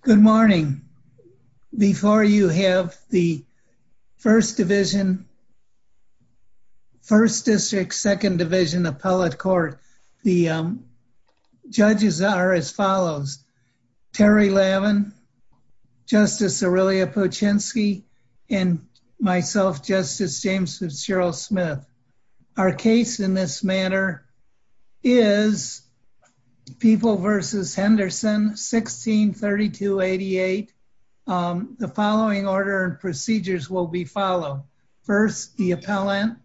Good morning. Before you have the 1st Division, 1st District, 2nd Division Appellate Court, the judges are as follows. Terry Lavin, Justice Aurelia Puchinsky, and myself, Justice James Fitzgerald Smith. Our case in this manner is People v. Henderson, 1-16-3288. The following order and procedures will be followed. First, the appellant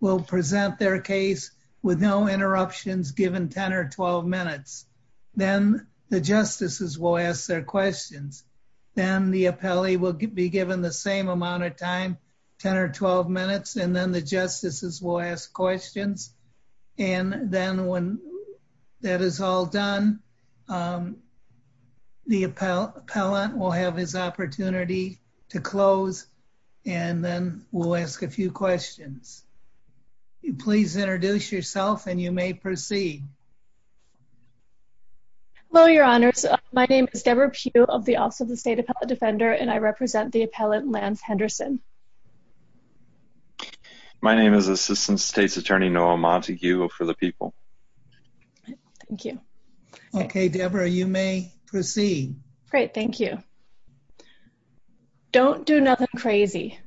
will present their case with no interruptions given 10 or 12 minutes. Then the justices will ask their questions. Then the appellee will be given the same amount of time, 10 or 12 minutes, and then the justices will ask questions. And then when that is all done, the appellant will have his opportunity to close, and then we'll ask a few questions. Please introduce yourself and you may proceed. Hello, Your Honors. My name is Debra Pugh of the Office of the State Appellate Defender, and I represent the appellant Lance Henderson. My name is Assistant State's Attorney Noah Montague for the People. Thank you. Okay, Debra, you may proceed. Great, thank you. Don't do nothing crazy.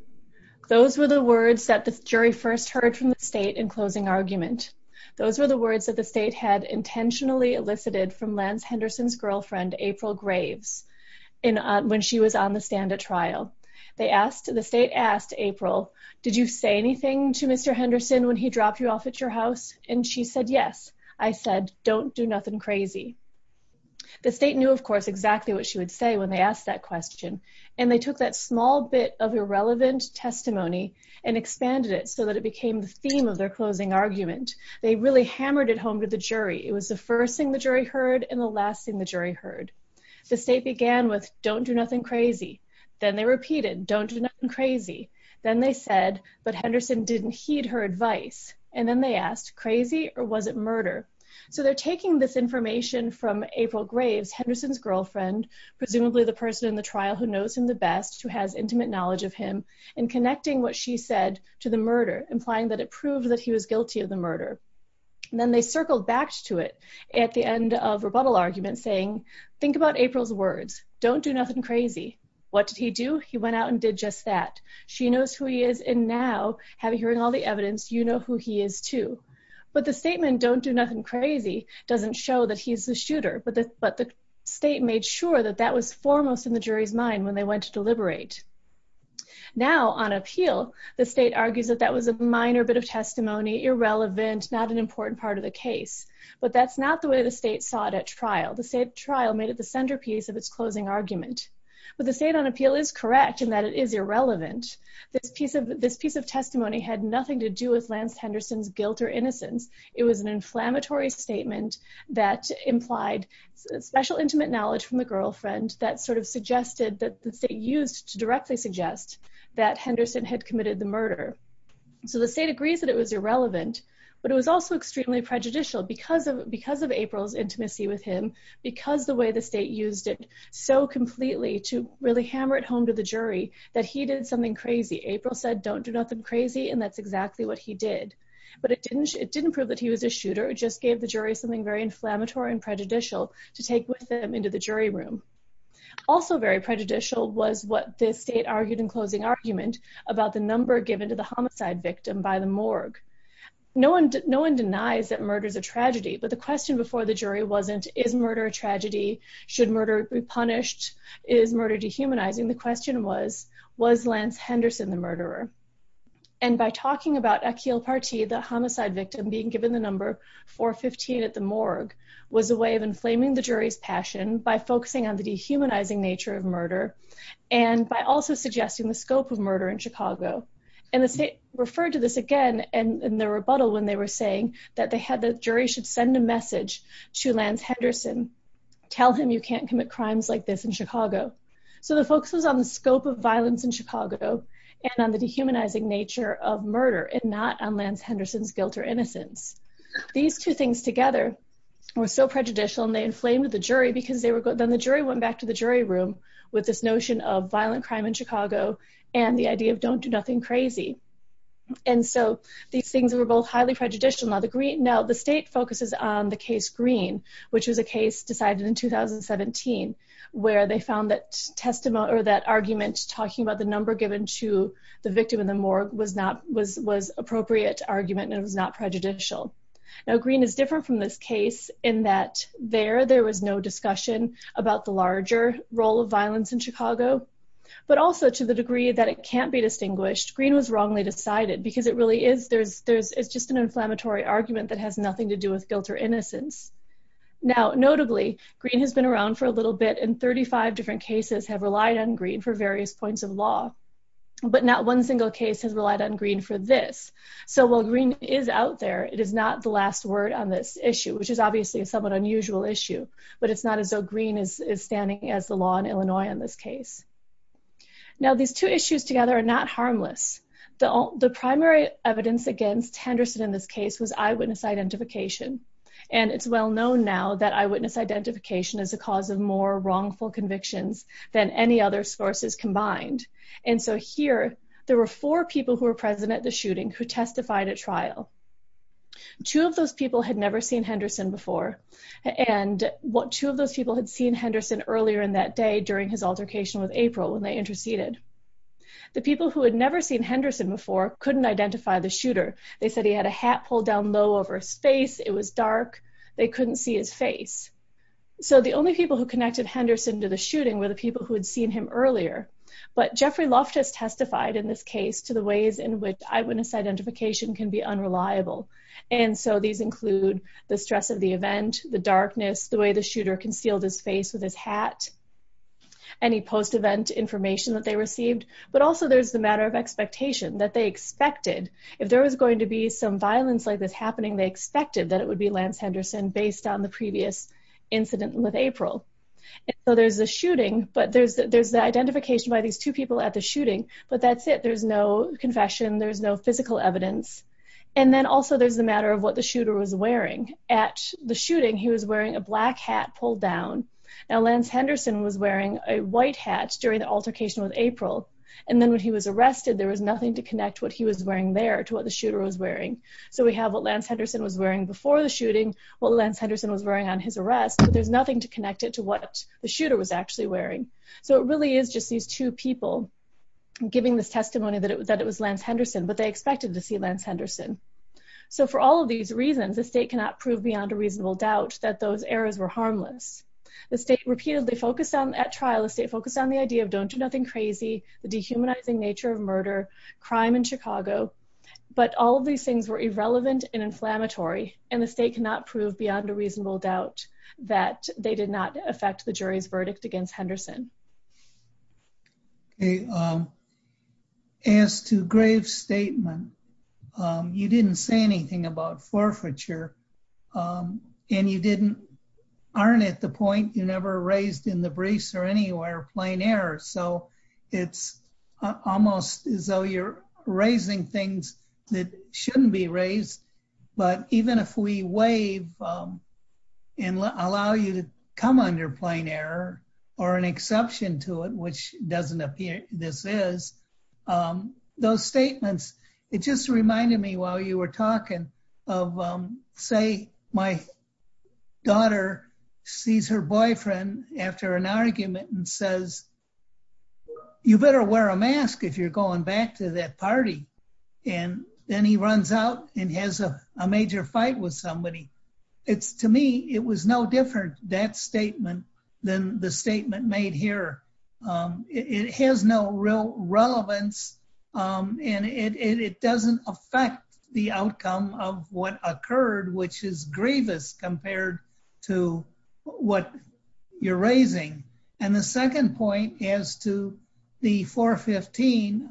Those were the words that the jury first heard from the State in closing argument. Those were the words that the State had intentionally elicited from Lance Henderson's girlfriend, April Graves, when she was on the stand at trial. The State asked April, did you say anything to Mr. Henderson when he dropped you off at your house? And she said, yes. I said, don't do nothing crazy. The State knew, of course, exactly what she would say when they asked that question, and they took that small bit of irrelevant testimony and expanded it so that it became the theme of their closing argument. They really hammered it home to the jury. It was the first thing the jury heard and the last thing the jury heard. The State began with, don't do nothing crazy. Then they repeated, don't do nothing crazy. Then they said, but Henderson didn't heed her advice. And then they asked, crazy or was it murder? So they're taking this information from April Graves, Henderson's girlfriend, presumably the person in the trial who knows him the best, who has intimate knowledge of him, and connecting what she said to the murder, implying that it proved that he was guilty of the murder. And then they circled back to it at the end of rebuttal argument saying, think about April's words. Don't do nothing crazy. What did he do? He went out and did just that. She knows who he is, and now, having heard all the evidence, you know who he is too. But the statement, don't do nothing crazy, doesn't show that he's the shooter. But the State made sure that that was foremost in the jury's mind when they went to deliberate. Now, on appeal, the State argues that that was a minor bit of testimony, irrelevant, not an important part of the case. But that's not the way the State saw it at trial. The State trial made it the centerpiece of its closing argument. But the State on appeal is correct in that it is irrelevant. This piece of testimony had nothing to do with Lance Henderson's guilt or innocence. It was an inflammatory statement that implied special intimate knowledge from the girlfriend that sort of suggested that the State used to directly suggest that Henderson had committed the murder. So the State agrees that it was irrelevant, but it was also extremely prejudicial because of April's intimacy with him, because the way the State used it so completely to really hammer it home to the jury that he did something crazy. April said, don't do nothing crazy, and that's exactly what he did. But it didn't prove that he was a shooter. It just gave the jury something very inflammatory and prejudicial to take with them into the jury room. Also very prejudicial was what the State argued in closing argument about the number given to the homicide victim by the morgue. No one denies that murder is a tragedy, but the question before the jury wasn't, is murder a tragedy? Should murder be punished? Is murder dehumanizing? The question was, was Lance Henderson the murderer? And by talking about Akhil Parthi, the homicide victim, being given the number 415 at the morgue was a way of inflaming the jury's passion by focusing on the dehumanizing nature of murder, and by also suggesting the scope of murder in Chicago. And the State referred to this again in the rebuttal when they were saying that the jury should send a message to Lance Henderson, tell him you can't commit crimes like this in Chicago. So the focus was on the scope of violence in Chicago and on the dehumanizing nature of murder, and not on Lance Henderson's guilt or innocence. These two things together were so prejudicial, and they inflamed the jury, because then the jury went back to the jury room with this notion of violent crime in Chicago and the idea of don't do nothing crazy. And so these things were both highly prejudicial. Now the State focuses on the case Green, which was a case decided in 2017, where they found that argument talking about the number given to the victim in the morgue was appropriate argument and it was not prejudicial. Now Green is different from this case in that there, there was no discussion about the larger role of violence in Chicago, but also to the degree that it can't be distinguished, Green was wrongly decided, because it really is, there's just an inflammatory argument that has nothing to do with guilt or innocence. Now, notably, Green has been around for a little bit and 35 different cases have relied on Green for various points of law, but not one single case has relied on Green for this. So while Green is out there, it is not the last word on this issue, which is obviously a somewhat unusual issue, but it's not as though Green is standing as the law in Illinois in this case. Now these two issues together are not harmless. The primary evidence against Henderson in this and it's well known now that eyewitness identification is a cause of more wrongful convictions than any other sources combined. And so here, there were four people who were present at the shooting who testified at trial. Two of those people had never seen Henderson before and what two of those people had seen Henderson earlier in that day during his altercation with April when they interceded. The people who had never seen Henderson before couldn't identify the shooter. They said he had a hat pulled down low over his face, it was dark, they couldn't see his face. So the only people who connected Henderson to the shooting were the people who had seen him earlier. But Jeffrey Loftus testified in this case to the ways in which eyewitness identification can be unreliable. And so these include the stress of the event, the darkness, the way the shooter concealed his face with his hat, any post-event information that they received, but also there's the matter of expectation that they expected. If there was going to be some violence like this happening, they expected that it would be Lance Henderson based on the previous incident with April. So there's a shooting, but there's the identification by these two people at the shooting, but that's it. There's no confession, there's no physical evidence. And then also there's the matter of what the shooter was wearing. At the shooting, he was wearing a black hat pulled down. Now Lance Henderson was wearing a white hat during the and then when he was arrested, there was nothing to connect what he was wearing there to what the shooter was wearing. So we have what Lance Henderson was wearing before the shooting, what Lance Henderson was wearing on his arrest, but there's nothing to connect it to what the shooter was actually wearing. So it really is just these two people giving this testimony that it was Lance Henderson, but they expected to see Lance Henderson. So for all of these reasons, the state cannot prove beyond a reasonable doubt that those errors were harmless. The state repeatedly focused on at trial, the state focused on the idea of don't do the dehumanizing nature of murder, crime in Chicago, but all of these things were irrelevant and inflammatory and the state cannot prove beyond a reasonable doubt that they did not affect the jury's verdict against Henderson. As to grave statement, you didn't say anything about forfeiture and you didn't, aren't at the point you never raised in the briefs or anywhere plain error. So it's almost as though you're raising things that shouldn't be raised. But even if we waive and allow you to come under plain error or an exception to it, which doesn't appear this is, those statements, it just reminded me while you were talking of say my daughter sees her boyfriend after an argument and says, you better wear a mask if you're going back to that party. And then he runs out and has a major fight with somebody. It's to me, it was no different that statement than the statement made here. It has no real relevance and it doesn't affect the outcome of what occurred, which is grievous compared to what you're raising. And the second point as to the 415,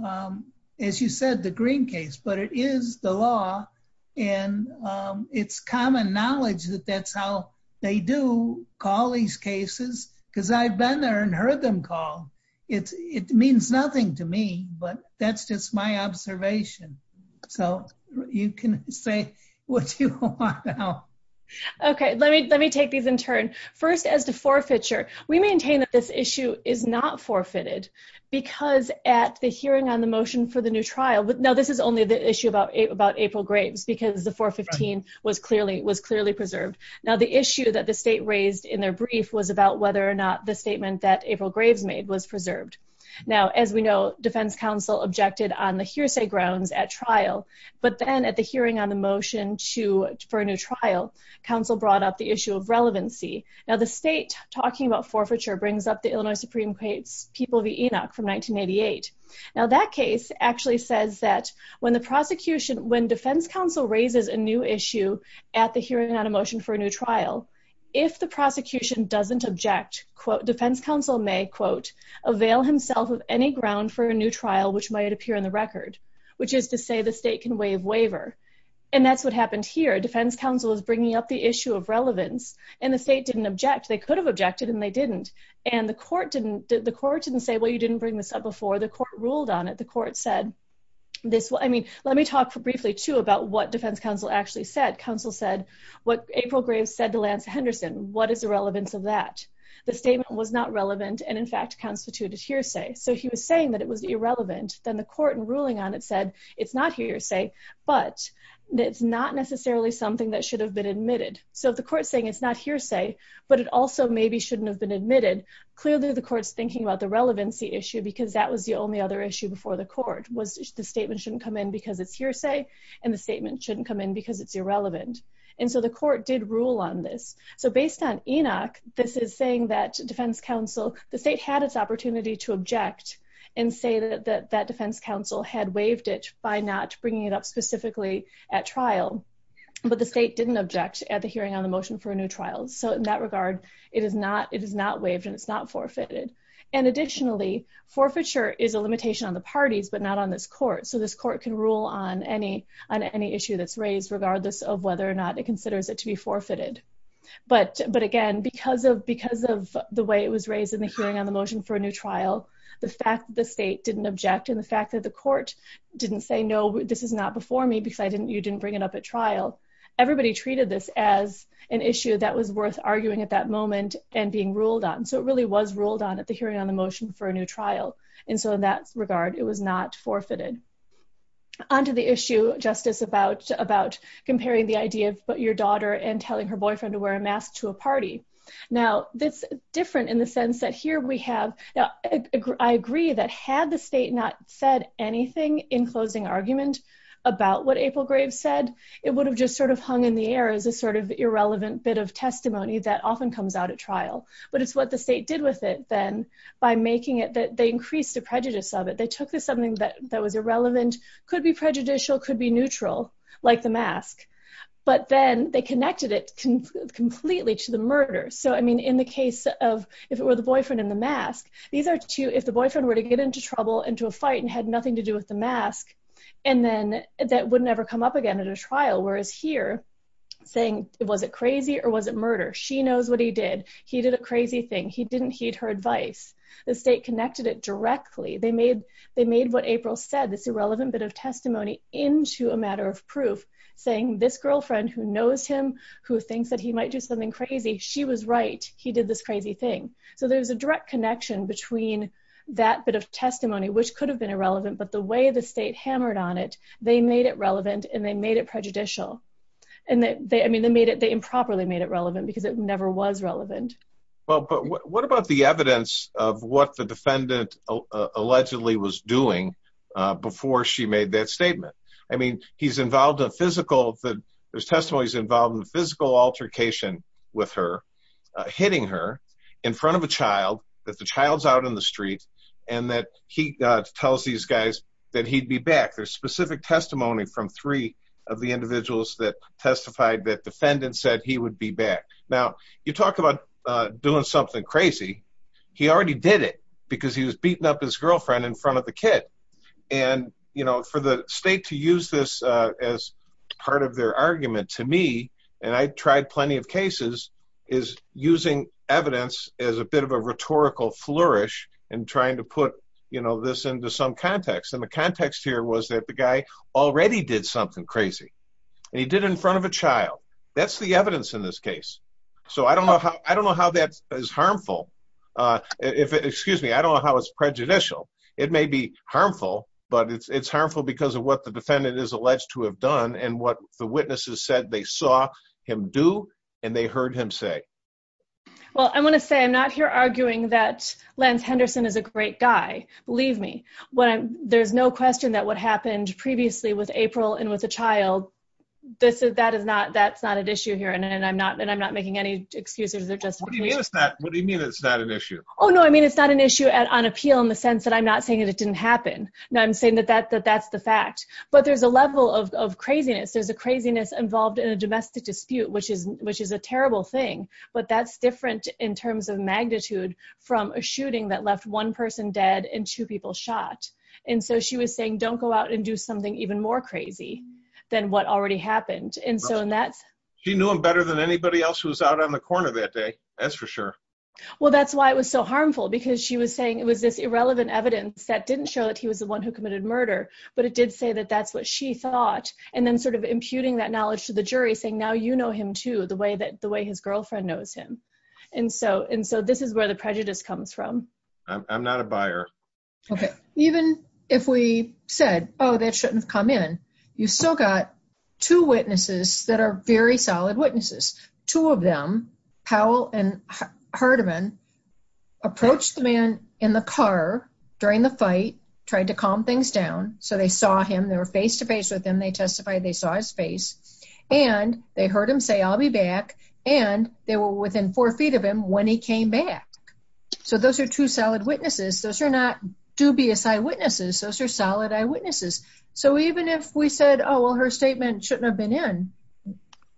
as you said, the green case, but it is the law and it's common knowledge that that's how they do call these cases because I've been there and you can say what you want. Okay. Let me, let me take these in turn. First as to forfeiture, we maintain that this issue is not forfeited because at the hearing on the motion for the new trial, but now this is only the issue about April Graves because the 415 was clearly, was clearly preserved. Now the issue that the state raised in their brief was about whether or not the statement that April Graves made was preserved. Now, as we know, defense counsel objected on the hearsay grounds at trial, but then at the hearing on the motion to, for a new trial, counsel brought up the issue of relevancy. Now the state talking about forfeiture brings up the Illinois Supreme court's people, the Enoch from 1988. Now that case actually says that when the prosecution, when defense counsel raises a new issue at the hearing on a motion for a new trial, if the prosecution doesn't object, quote defense counsel may quote avail himself of any ground for a new trial, which might appear in the record, which is to say the state can waive waiver. And that's what happened here. Defense counsel is bringing up the issue of relevance and the state didn't object. They could have objected and they didn't. And the court didn't, the court didn't say, well, you didn't bring this up before the court ruled on it. The court said this. Well, I mean, let me talk briefly to about what defense counsel actually said. Counsel said what April Graves said to Lance Henderson, what is the relevance of that? The statement was not irrelevant. Then the court and ruling on it said it's not hearsay, but it's not necessarily something that should have been admitted. So if the court saying it's not hearsay, but it also maybe shouldn't have been admitted. Clearly the court's thinking about the relevancy issue because that was the only other issue before the court was the statement shouldn't come in because it's hearsay and the statement shouldn't come in because it's irrelevant. And so the court did rule on this. So based on Enoch, this is saying that defense counsel, the state had its to object and say that that defense counsel had waived it by not bringing it up specifically at trial, but the state didn't object at the hearing on the motion for a new trial. So in that regard, it is not, it is not waived and it's not forfeited. And additionally, forfeiture is a limitation on the parties, but not on this court. So this court can rule on any, on any issue that's raised regardless of whether or not it considers it to be forfeited. But, but again, because of, because of the way it was raised in the hearing on the motion for a new trial, the fact that the state didn't object and the fact that the court didn't say, no, this is not before me because I didn't, you didn't bring it up at trial. Everybody treated this as an issue that was worth arguing at that moment and being ruled on. So it really was ruled on at the hearing on the motion for a new trial. And so in that regard, it was not forfeited. Onto the issue, Justice, about, about comparing the idea of your daughter and telling her boyfriend to wear a mask to a party. Now that's different in the sense that here we have, now I agree that had the state not said anything in closing argument about what April Graves said, it would have just sort of hung in the air as a sort of irrelevant bit of testimony that often comes out at trial, but it's what the state did with it then by making it that they increased the prejudice of it. They took this something that was irrelevant, could be prejudicial, could be neutral, like the mask, but then they connected it completely to the murder. So, I mean, in the case of, if it were the boyfriend in the mask, these are two, if the boyfriend were to get into trouble, into a fight and had nothing to do with the mask, and then that would never come up again at a trial. Whereas here saying, was it crazy or was it murder? She knows what he did. He did a crazy thing. He didn't heed her advice. The state connected it directly. They made what April said, this irrelevant bit of testimony into a matter of proof saying this girlfriend who knows him, who thinks that he might do something crazy, she was right. He did this crazy thing. So there's a direct connection between that bit of testimony, which could have been irrelevant, but the way the state hammered on it, they made it relevant and they made it prejudicial. And they, I mean, they made it, they improperly made it relevant because it never was relevant. Well, but what about the evidence of what the defendant allegedly was doing before she made that statement? I mean, he's involved in physical, there's testimonies involved in the physical altercation with her, hitting her in front of a child, that the child's out in the street and that he tells these guys that he'd be back. There's specific testimony from three of the individuals that testified that defendant said he would be back. Now you talk about doing something crazy. He already did it because he was beating up his girlfriend in front of the kid. And you know, for the state to use this as part of their argument to me, and I tried plenty of cases, is using evidence as a bit of a rhetorical flourish and trying to put, you know, this into some context. And the context here was that the guy already did something crazy and he did it in front of a child. That's the evidence in this case. So I don't know how that is harmful. Excuse me, I don't know how it's prejudicial. It may be harmful, but it's harmful because of what the defendant is alleged to have done and what the witnesses said they saw him do and they heard him say. Well, I'm going to say I'm not here arguing that Lance Henderson is a criminal. That's not an issue here. Believe me, there's no question that what happened previously with April and with a child, that's not an issue here. And I'm not making any excuses. What do you mean it's not an issue? Oh no, I mean it's not an issue on appeal in the sense that I'm not saying that it didn't happen. No, I'm saying that that's the fact. But there's a level of craziness. There's a craziness involved in a domestic dispute, which is a terrible thing. But that's different in terms of magnitude from a shooting that left one person dead and two people shot. And so she was saying, don't go out and do something even more crazy than what already happened. She knew him better than anybody else who was out on the corner that day, that's for sure. Well, that's why it was so harmful because she was saying it was this irrelevant evidence that didn't show that he was the one who committed murder, but it did say that that's what she thought. And then sort of imputing that knowledge to the jury saying, now you know him too, the way his girlfriend knows him. And so this is where the prejudice comes from. I'm not a buyer. Okay, even if we said, oh, that shouldn't have come in, you still got two witnesses that are very solid witnesses. Two of them, Powell and Hardiman, approached the man in the car during the fight, tried to calm things down. So they saw him, they were face to face with him, they testified they saw his face and they heard him say, I'll be back. And they were within four feet of him when he came back. So those are two solid witnesses. Those are not dubious eyewitnesses. Those are solid eyewitnesses. So even if we said, oh, well, her statement shouldn't have been in,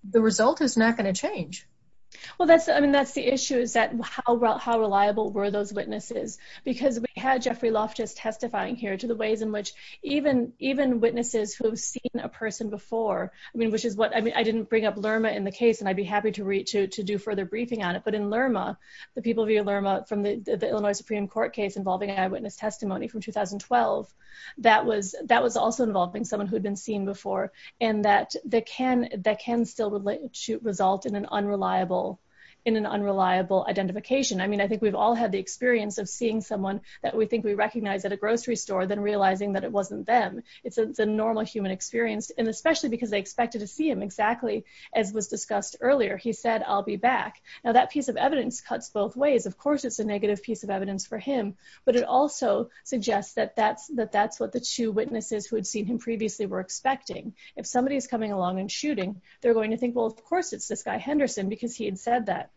the result is not going to change. Well, I mean, that's the issue is that how reliable were those witnesses? Because we had Jeffrey Loftus testifying here to the ways in which even witnesses who've seen a person before, I mean, which is what, I mean, I didn't bring up Lerma in the case, and I'd be happy to do further briefing on it. But in Lerma, the people via Lerma from the Illinois Supreme Court case involving eyewitness testimony from 2012, that was also involving someone who'd been seen before. And that can still result in an unreliable identification. I mean, I think we've all had the experience of seeing someone that we think we especially because they expected to see him exactly as was discussed earlier. He said, I'll be back. Now that piece of evidence cuts both ways. Of course, it's a negative piece of evidence for him. But it also suggests that that's what the two witnesses who had seen him previously were expecting. If somebody is coming along and shooting, they're going to think, well, of course, it's this guy Henderson, because he had said that.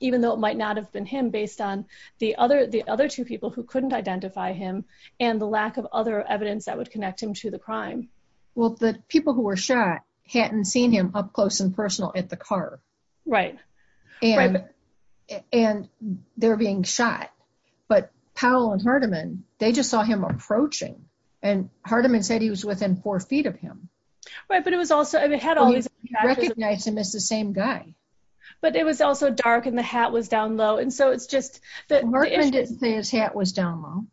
Even though it might not have been him based on the other two people who couldn't identify him and the lack of other evidence that would connect him to the crime. Well, the people who were shot hadn't seen him up close and personal at the car. Right. And they're being shot. But Powell and Hardeman, they just saw him approaching. And Hardeman said he was within four feet of him. Right. But it was also, it had all these recognize him as the same guy. But it was also dark and the hat was down low. And so it's just that Hardeman didn't say his hat was down low.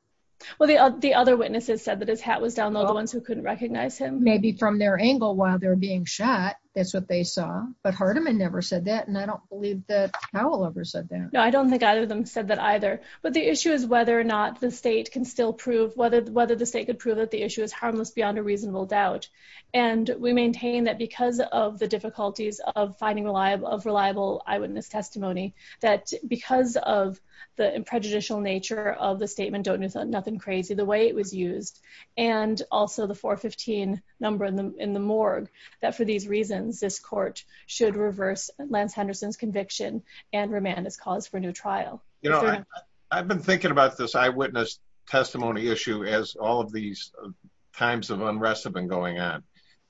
Well, the other witnesses said that his hat was down low, the ones who couldn't recognize him. Maybe from their angle while they're being shot. That's what they saw. But Hardeman never said that. And I don't believe that Powell ever said that. No, I don't think either of them said that either. But the issue is whether or not the state can still prove whether the state could prove that the issue is harmless beyond a reasonable doubt. And we maintain that because of the difficulties of finding reliable eyewitness testimony, that because of the prejudicial nature of the statement, don't do nothing crazy, the way it was used. And also the 415 number in the morgue, that for these reasons, this court should reverse Lance Henderson's conviction and remand his cause for new trial. You know, I've been thinking about this eyewitness testimony issue as all of these times of unrest have been going on.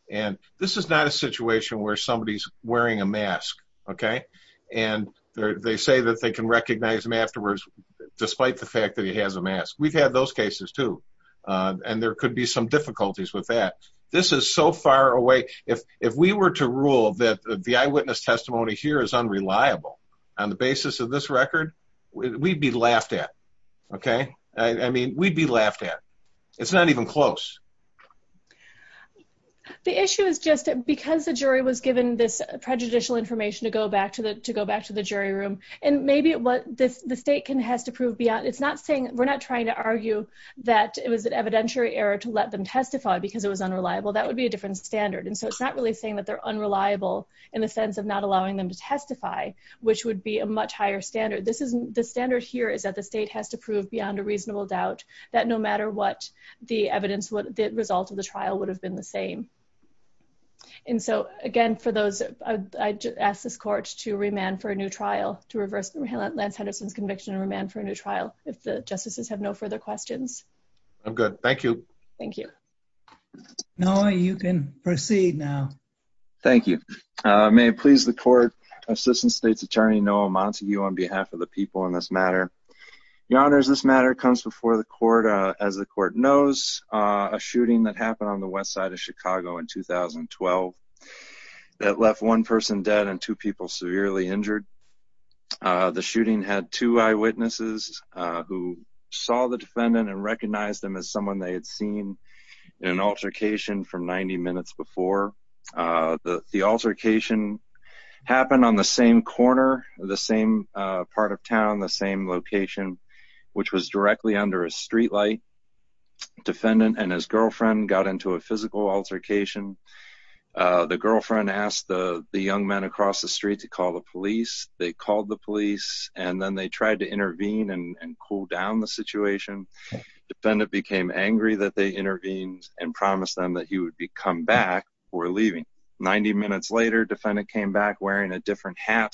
And this is not a situation where somebody's wearing a mask. Okay. And they say that they can recognize him and there could be some difficulties with that. This is so far away. If we were to rule that the eyewitness testimony here is unreliable on the basis of this record, we'd be laughed at. Okay. I mean, we'd be laughed at. It's not even close. The issue is just because the jury was given this prejudicial information to go back to the jury room. And maybe what the state has to prove beyond, it's not saying, we're not trying to argue that it was an evidentiary error to let them testify because it was unreliable. That would be a different standard. And so it's not really saying that they're unreliable in the sense of not allowing them to testify, which would be a much higher standard. The standard here is that the state has to prove beyond a reasonable doubt that no matter what the evidence, what the result of the trial would have been the same. And so again, for those, I asked this court to remand for a new trial, to reverse Lance Henderson's conviction and remand for a new trial. If the I'm good. Thank you. Thank you. Noah, you can proceed now. Thank you. May it please the court assistant state's attorney, Noah Montague on behalf of the people in this matter. Your honors, this matter comes before the court as the court knows a shooting that happened on the West side of Chicago in 2012 that left one person dead and two people severely injured. Uh, the shooting had two eyewitnesses, uh, who saw the defendant and recognized them as someone they had seen in an altercation from 90 minutes before, uh, the, the altercation happened on the same corner, the same, uh, part of town, the same location, which was directly under a streetlight defendant and his girlfriend got into a physical altercation. Uh, the girlfriend asked the, the young men across the street to call the police. They called the police and then they tried to intervene and cool down the situation. Defendant became angry that they intervened and promised them that he would be come back or leaving. 90 minutes later, defendant came back wearing a different hat.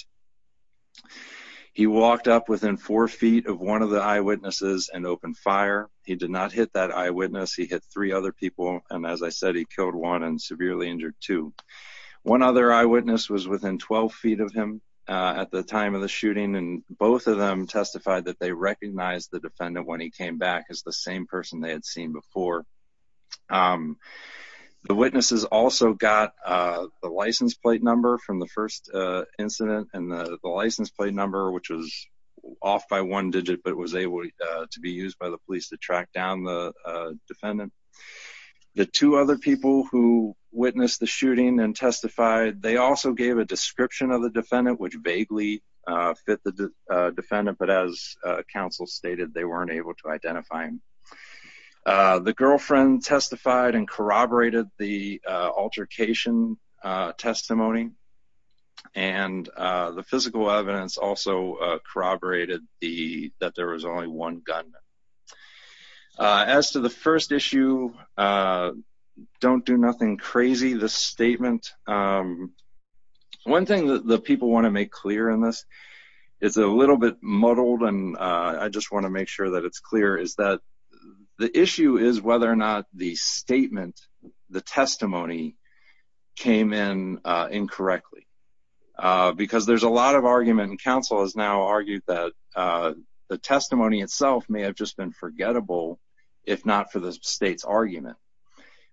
He walked up within four feet of one of the eyewitnesses and open fire. He did not hit that eyewitness. He hit three other people. And as I said, he killed one and was within 12 feet of him, uh, at the time of the shooting. And both of them testified that they recognized the defendant when he came back as the same person they had seen before. Um, the witnesses also got, uh, the license plate number from the first, uh, incident and the license plate number, which was off by one digit, but it was able to be used by the police to track down the, uh, defendant. The two other people who witnessed the shooting and testified, they also gave a description of the defendant, which vaguely, uh, fit the, uh, defendant, but as a council stated, they weren't able to identify him. Uh, the girlfriend testified and corroborated the, uh, altercation, uh, testimony and, uh, the physical evidence also corroborated the, that there was only one gun. Uh, as to the first issue, uh, don't do nothing crazy. The statement, um, one thing that the people want to make clear in this is a little bit muddled. And, uh, I just want to make sure that it's clear is that the issue is whether or not the statement, the testimony came in, uh, incorrectly, uh, because there's a lot of argument and council has now argued that, uh, the testimony itself may have just been forgettable. If not for the state's argument,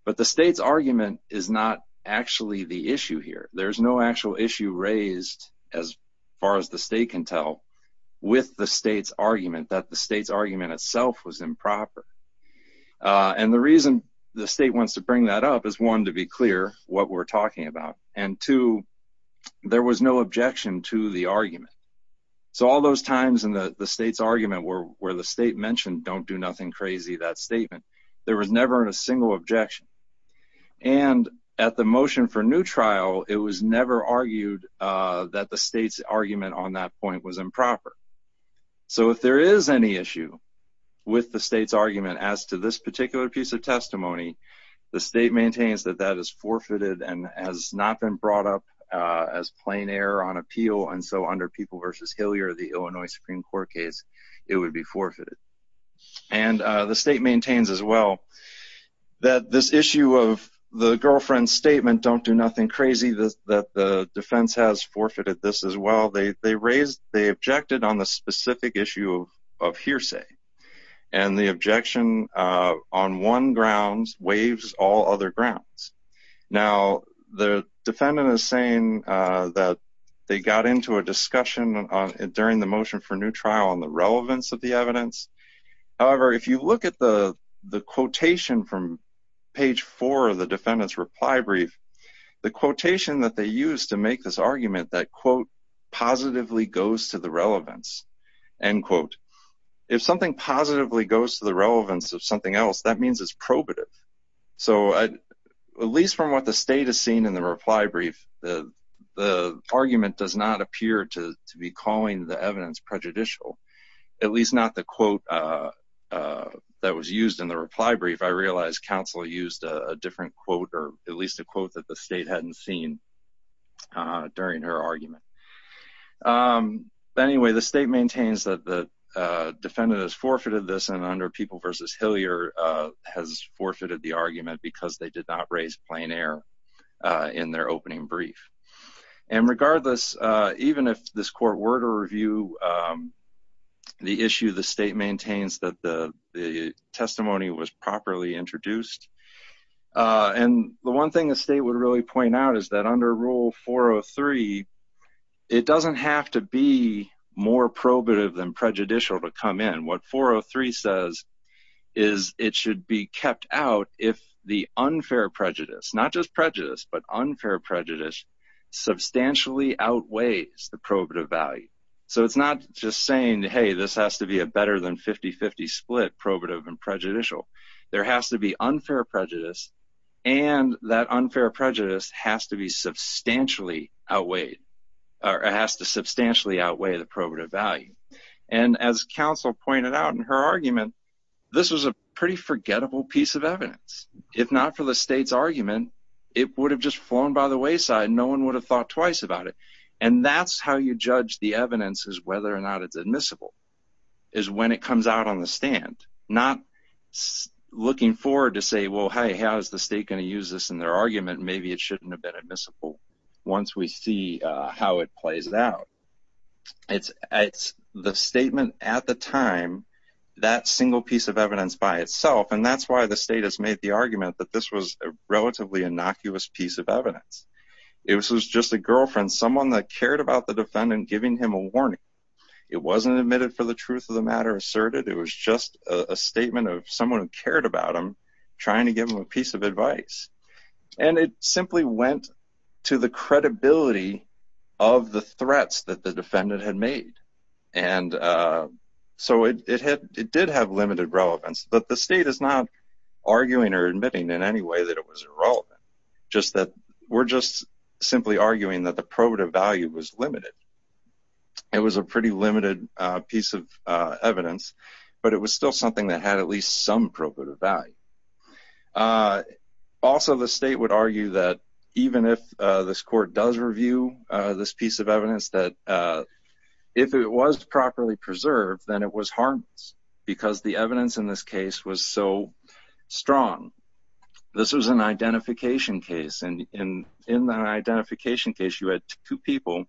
but the state's argument is not actually the issue here. There's no actual issue raised as far as the state can tell with the state's argument that the state's argument itself was improper. Uh, and the reason the state wants to bring that up is one, to be what we're talking about. And two, there was no objection to the argument. So all those times in the state's argument where, where the state mentioned, don't do nothing crazy, that statement, there was never a single objection. And at the motion for new trial, it was never argued, uh, that the state's argument on that point was improper. So if there is any issue with the state's argument as to this particular piece of testimony, the state maintains that that is forfeited and has not been brought up, uh, as plain error on appeal. And so under people versus Hillier, the Illinois Supreme court case, it would be forfeited. And, uh, the state maintains as well that this issue of the girlfriend's statement, don't do nothing crazy. This, that the defense has forfeited this as well. They, they raised, they objected on the specific issue of hearsay and the objection, uh, on one grounds waves, all other grounds. Now the defendant is saying, uh, that they got into a discussion on during the motion for new trial on the relevance of the evidence. However, if you look at the, the quotation from page four of the defendant's reply brief, the quotation that they use to make this argument that quote positively goes to the relevance and quote, if something positively goes to the relevance of something else, that means it's probative. So at least from what the state has seen in the reply brief, the, the argument does not appear to be calling the evidence prejudicial, at least not the quote, uh, uh, that was used in the reply brief. I realized council used a different quote, or at least a quote that the state hadn't seen, uh, during her argument. Um, but anyway, the state maintains that the, uh, defendant has forfeited this and under people versus Hillier, uh, has forfeited the argument because they did not raise plain air, uh, in their opening brief. And regardless, uh, even if this court were to review, um, the issue, the state maintains that the testimony was properly introduced. Uh, and the one thing the state would really point out is that under rule four Oh three, it doesn't have to be more probative than prejudicial to come in. What four Oh three says is it should be kept out if the unfair prejudice, not just prejudice, but unfair prejudice substantially outweighs the probative value. So it's not just saying, Hey, this has to be a better than 50 50 split probative and prejudicial. There has to be unfair prejudice. And that unfair prejudice has to be substantially outweighed or has to substantially outweigh the probative value. And as council pointed out in her argument, this was a pretty forgettable piece of evidence. If not for the state's argument, it would have just flown by the wayside. No one would have thought twice about it. And that's how you judge the evidence is whether or not it's admissible is when it comes out on the stand, not looking forward to say, Well, hey, how is the state going to use this in their argument? Maybe it shouldn't have been admissible once we see how it plays it out. It's the statement at the time that single piece of evidence by itself. And that's why the state has made the argument that this was relatively innocuous piece of evidence. It was just a girlfriend, someone that cared about the defendant, giving him a warning. It wasn't admitted for the truth of the matter asserted. It was just a statement of someone who cared about him trying to give him a piece of advice. And it simply went to the credibility of the threats that the defendant had made. And so it did have limited relevance. But the state is not arguing or admitting in any way that it was irrelevant, just that we're just simply arguing that the probative value was limited. It was a pretty limited piece of evidence, but it was still something that had at least some probative value. Also, the state would argue that even if this court does review this piece of evidence that if it was properly preserved, then it was harmless because the evidence in this case was so strong. This was an identification case. And in that identification case, you had two people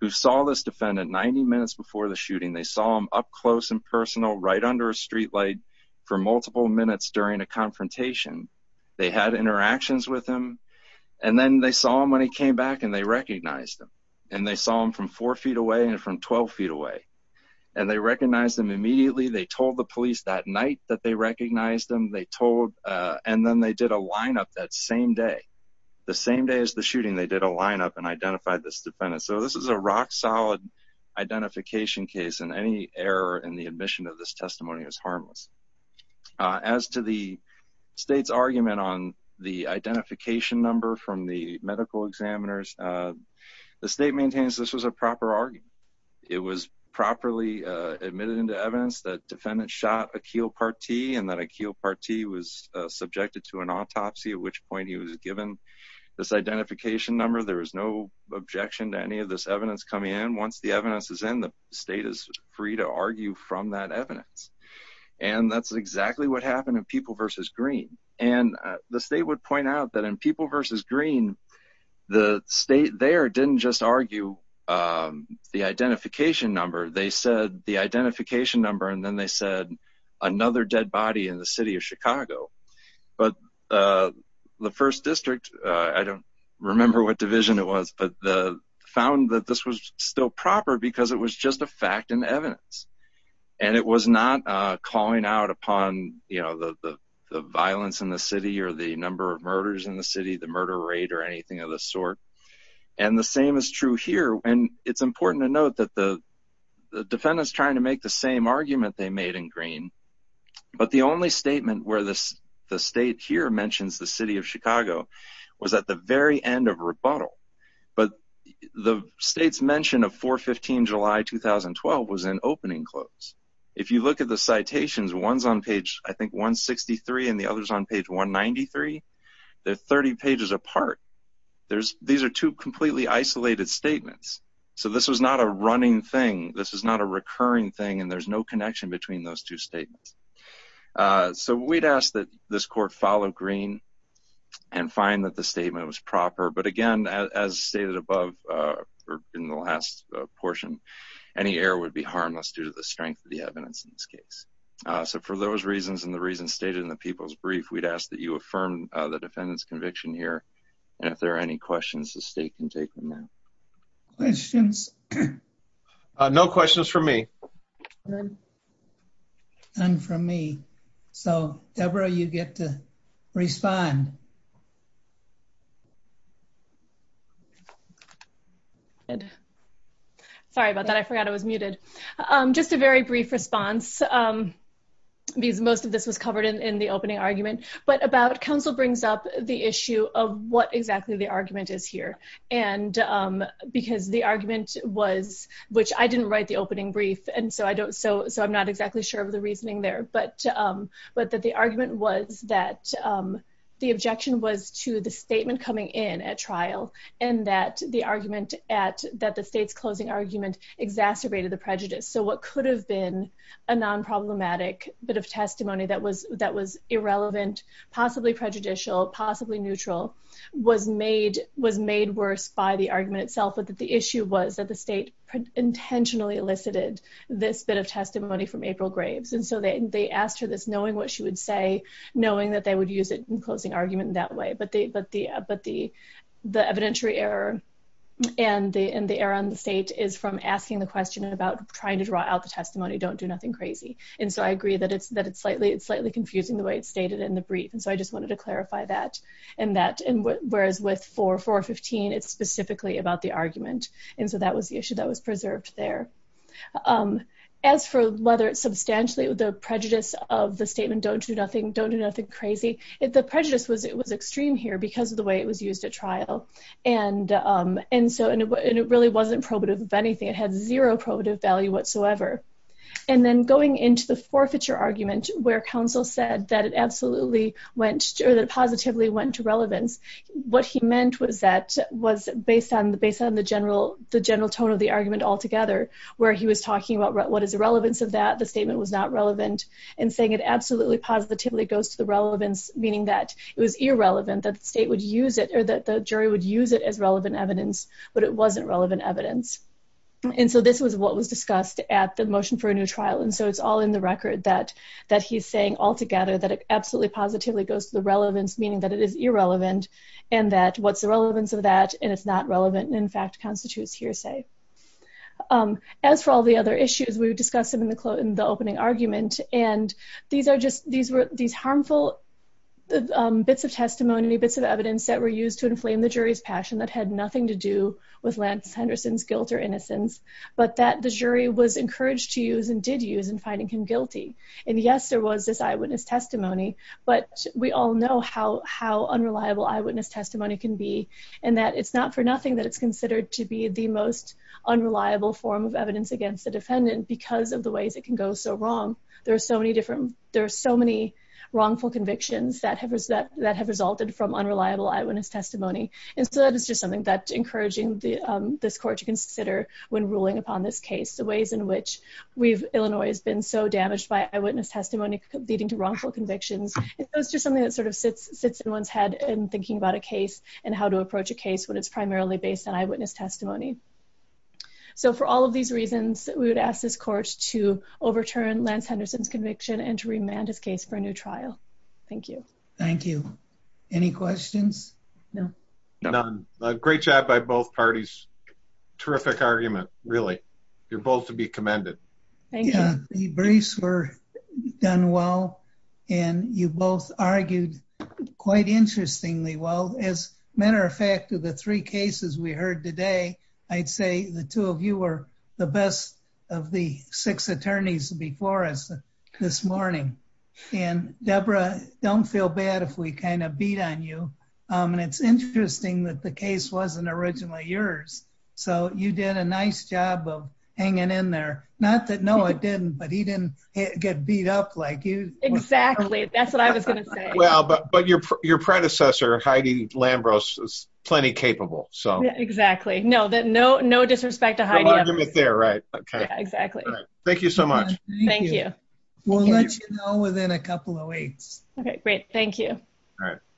who saw this defendant 90 minutes before the shooting. They saw him up close and personal, right under a streetlight for multiple minutes during a confrontation. They had interactions with him. And then they saw him when he came back and they recognized him. And they saw him from four feet away and from 12 feet away. And they recognized him immediately. They told the police that night that they recognized him. And then they did a lineup that same day. The same day as the shooting, they did a lineup and identified this defendant. So this is a rock solid identification case. And any error in the admission of this testimony is harmless. As to the state's argument on the identification number from the medical examiners, the state maintains this was a proper argument. It was properly admitted into evidence that defendants shot Akeel Partee and that Akeel Partee was subjected to an autopsy, at which point he was given this identification number. There was no objection to any of this evidence coming in. Once the evidence is in, the state is free to point out that in People v. Green, the state there didn't just argue the identification number. They said the identification number and then they said another dead body in the city of Chicago. But the first district, I don't remember what division it was, but found that this was still proper because it was just a fact and evidence. And it was not calling out upon the violence in the city or the number of murders in the city, the murder rate or anything of the sort. And the same is true here. It's important to note that the defendant is trying to make the same argument they made in Green, but the only statement where the state here mentions the city of Chicago was at the very end of rebuttal. But the state's mention of 4-15-July-2012 was in opening quotes. If you look at the citations, one's on page, I think, 163 and the other's on page 193. They're 30 pages apart. These are two completely isolated statements. So this was not a running thing. This is not a recurring thing, and there's no connection between those two statements. So we'd ask that this court follow Green and find that the statement was proper. But again, as stated above in the last portion, any error would be harmless due to the strength of the evidence in this case. So for those reasons and the reasons stated in the People's Brief, we'd ask that you affirm the defendant's conviction here. And if there are any questions, the state can take them now. Questions? No questions from me. None from me. So Deborah, you get to respond. Good. Sorry about that. I forgot I was muted. Just a very brief response. Because most of this was covered in the opening argument. But about council brings up the issue of what exactly the argument is here. And because the argument was, which I didn't write the opening brief, and so I don't, so I'm not exactly sure of the reasoning there. But that the argument was that the objection was to the statement coming in at trial, and that the argument at that the state's closing argument exacerbated the prejudice. So what could have been a non-problematic bit of testimony that was that was irrelevant, possibly prejudicial, possibly neutral, was made worse by the argument itself. But the issue was that the state intentionally elicited this bit of testimony from April Graves. And so they asked her this knowing what she would say, knowing that they would use it in closing argument that way. But the evidentiary error and the error on the state is from asking the question about trying to draw out the testimony, don't do nothing crazy. And so I agree that it's slightly confusing the way it's stated in the brief. And so I just wanted to clarify that. And that, whereas with 4.415, it's specifically about the argument. And so that was that was preserved there. As for whether it's substantially the prejudice of the statement, don't do nothing, don't do nothing crazy. If the prejudice was it was extreme here because of the way it was used at trial. And, and so and it really wasn't probative of anything, it had zero probative value whatsoever. And then going into the forfeiture argument, where counsel said that it absolutely went or that positively went to relevance. What he meant was that was based on the general, the general tone of the argument altogether, where he was talking about what is the relevance of that the statement was not relevant, and saying it absolutely positively goes to the relevance, meaning that it was irrelevant, that the state would use it or that the jury would use it as relevant evidence, but it wasn't relevant evidence. And so this was what was discussed at the motion for a new trial. And so it's all in the record that, that he's saying altogether that it absolutely positively goes to the relevance, meaning that it is irrelevant, and that what's the relevance of that, and it's not relevant, in fact, constitutes hearsay. As for all the other issues, we've discussed them in the opening argument. And these are just these were these harmful bits of testimony, bits of evidence that were used to inflame the jury's passion that had nothing to do with Lance Henderson's guilt or innocence, but that the jury was encouraged to use and did use in finding him guilty. And yes, there was this eyewitness testimony, but we all know how unreliable eyewitness testimony can be, and that it's not for nothing that it's considered to be the most unreliable form of evidence against the defendant because of the ways it can go so wrong. There are so many different, there are so many wrongful convictions that have resulted from unreliable eyewitness testimony. And so that is just something that encouraging this court to consider when ruling upon this case, the ways in which Illinois has been so damaged by eyewitness testimony leading to wrongful convictions. It's just something that sort of sits in one's head in thinking about a case and how to approach a case when it's primarily based on eyewitness testimony. So for all of these reasons, we would ask this court to overturn Lance Henderson's conviction and to remand his case for a new trial. Thank you. Thank you. Any questions? None. Great job by both parties. Terrific argument, really. You're both to be commended. Yeah, the briefs were done well, and you both argued quite interestingly well. As a matter of fact, of the three cases we heard today, I'd say the two of you were the best of the six attorneys before us this morning. And Deborah, don't feel bad if we kind of beat on you. And it's interesting that the case wasn't originally yours. So you did a nice job of hanging in there. Not that Noah didn't, but he didn't get beat up like you. Exactly. That's what I was going to say. Well, but your predecessor, Heidi Lambros, is plenty capable. So exactly. No, no disrespect to Heidi. Exactly. Thank you so much. Thank you. We'll let you know within a couple of weeks. Okay, great. Thank you. All right.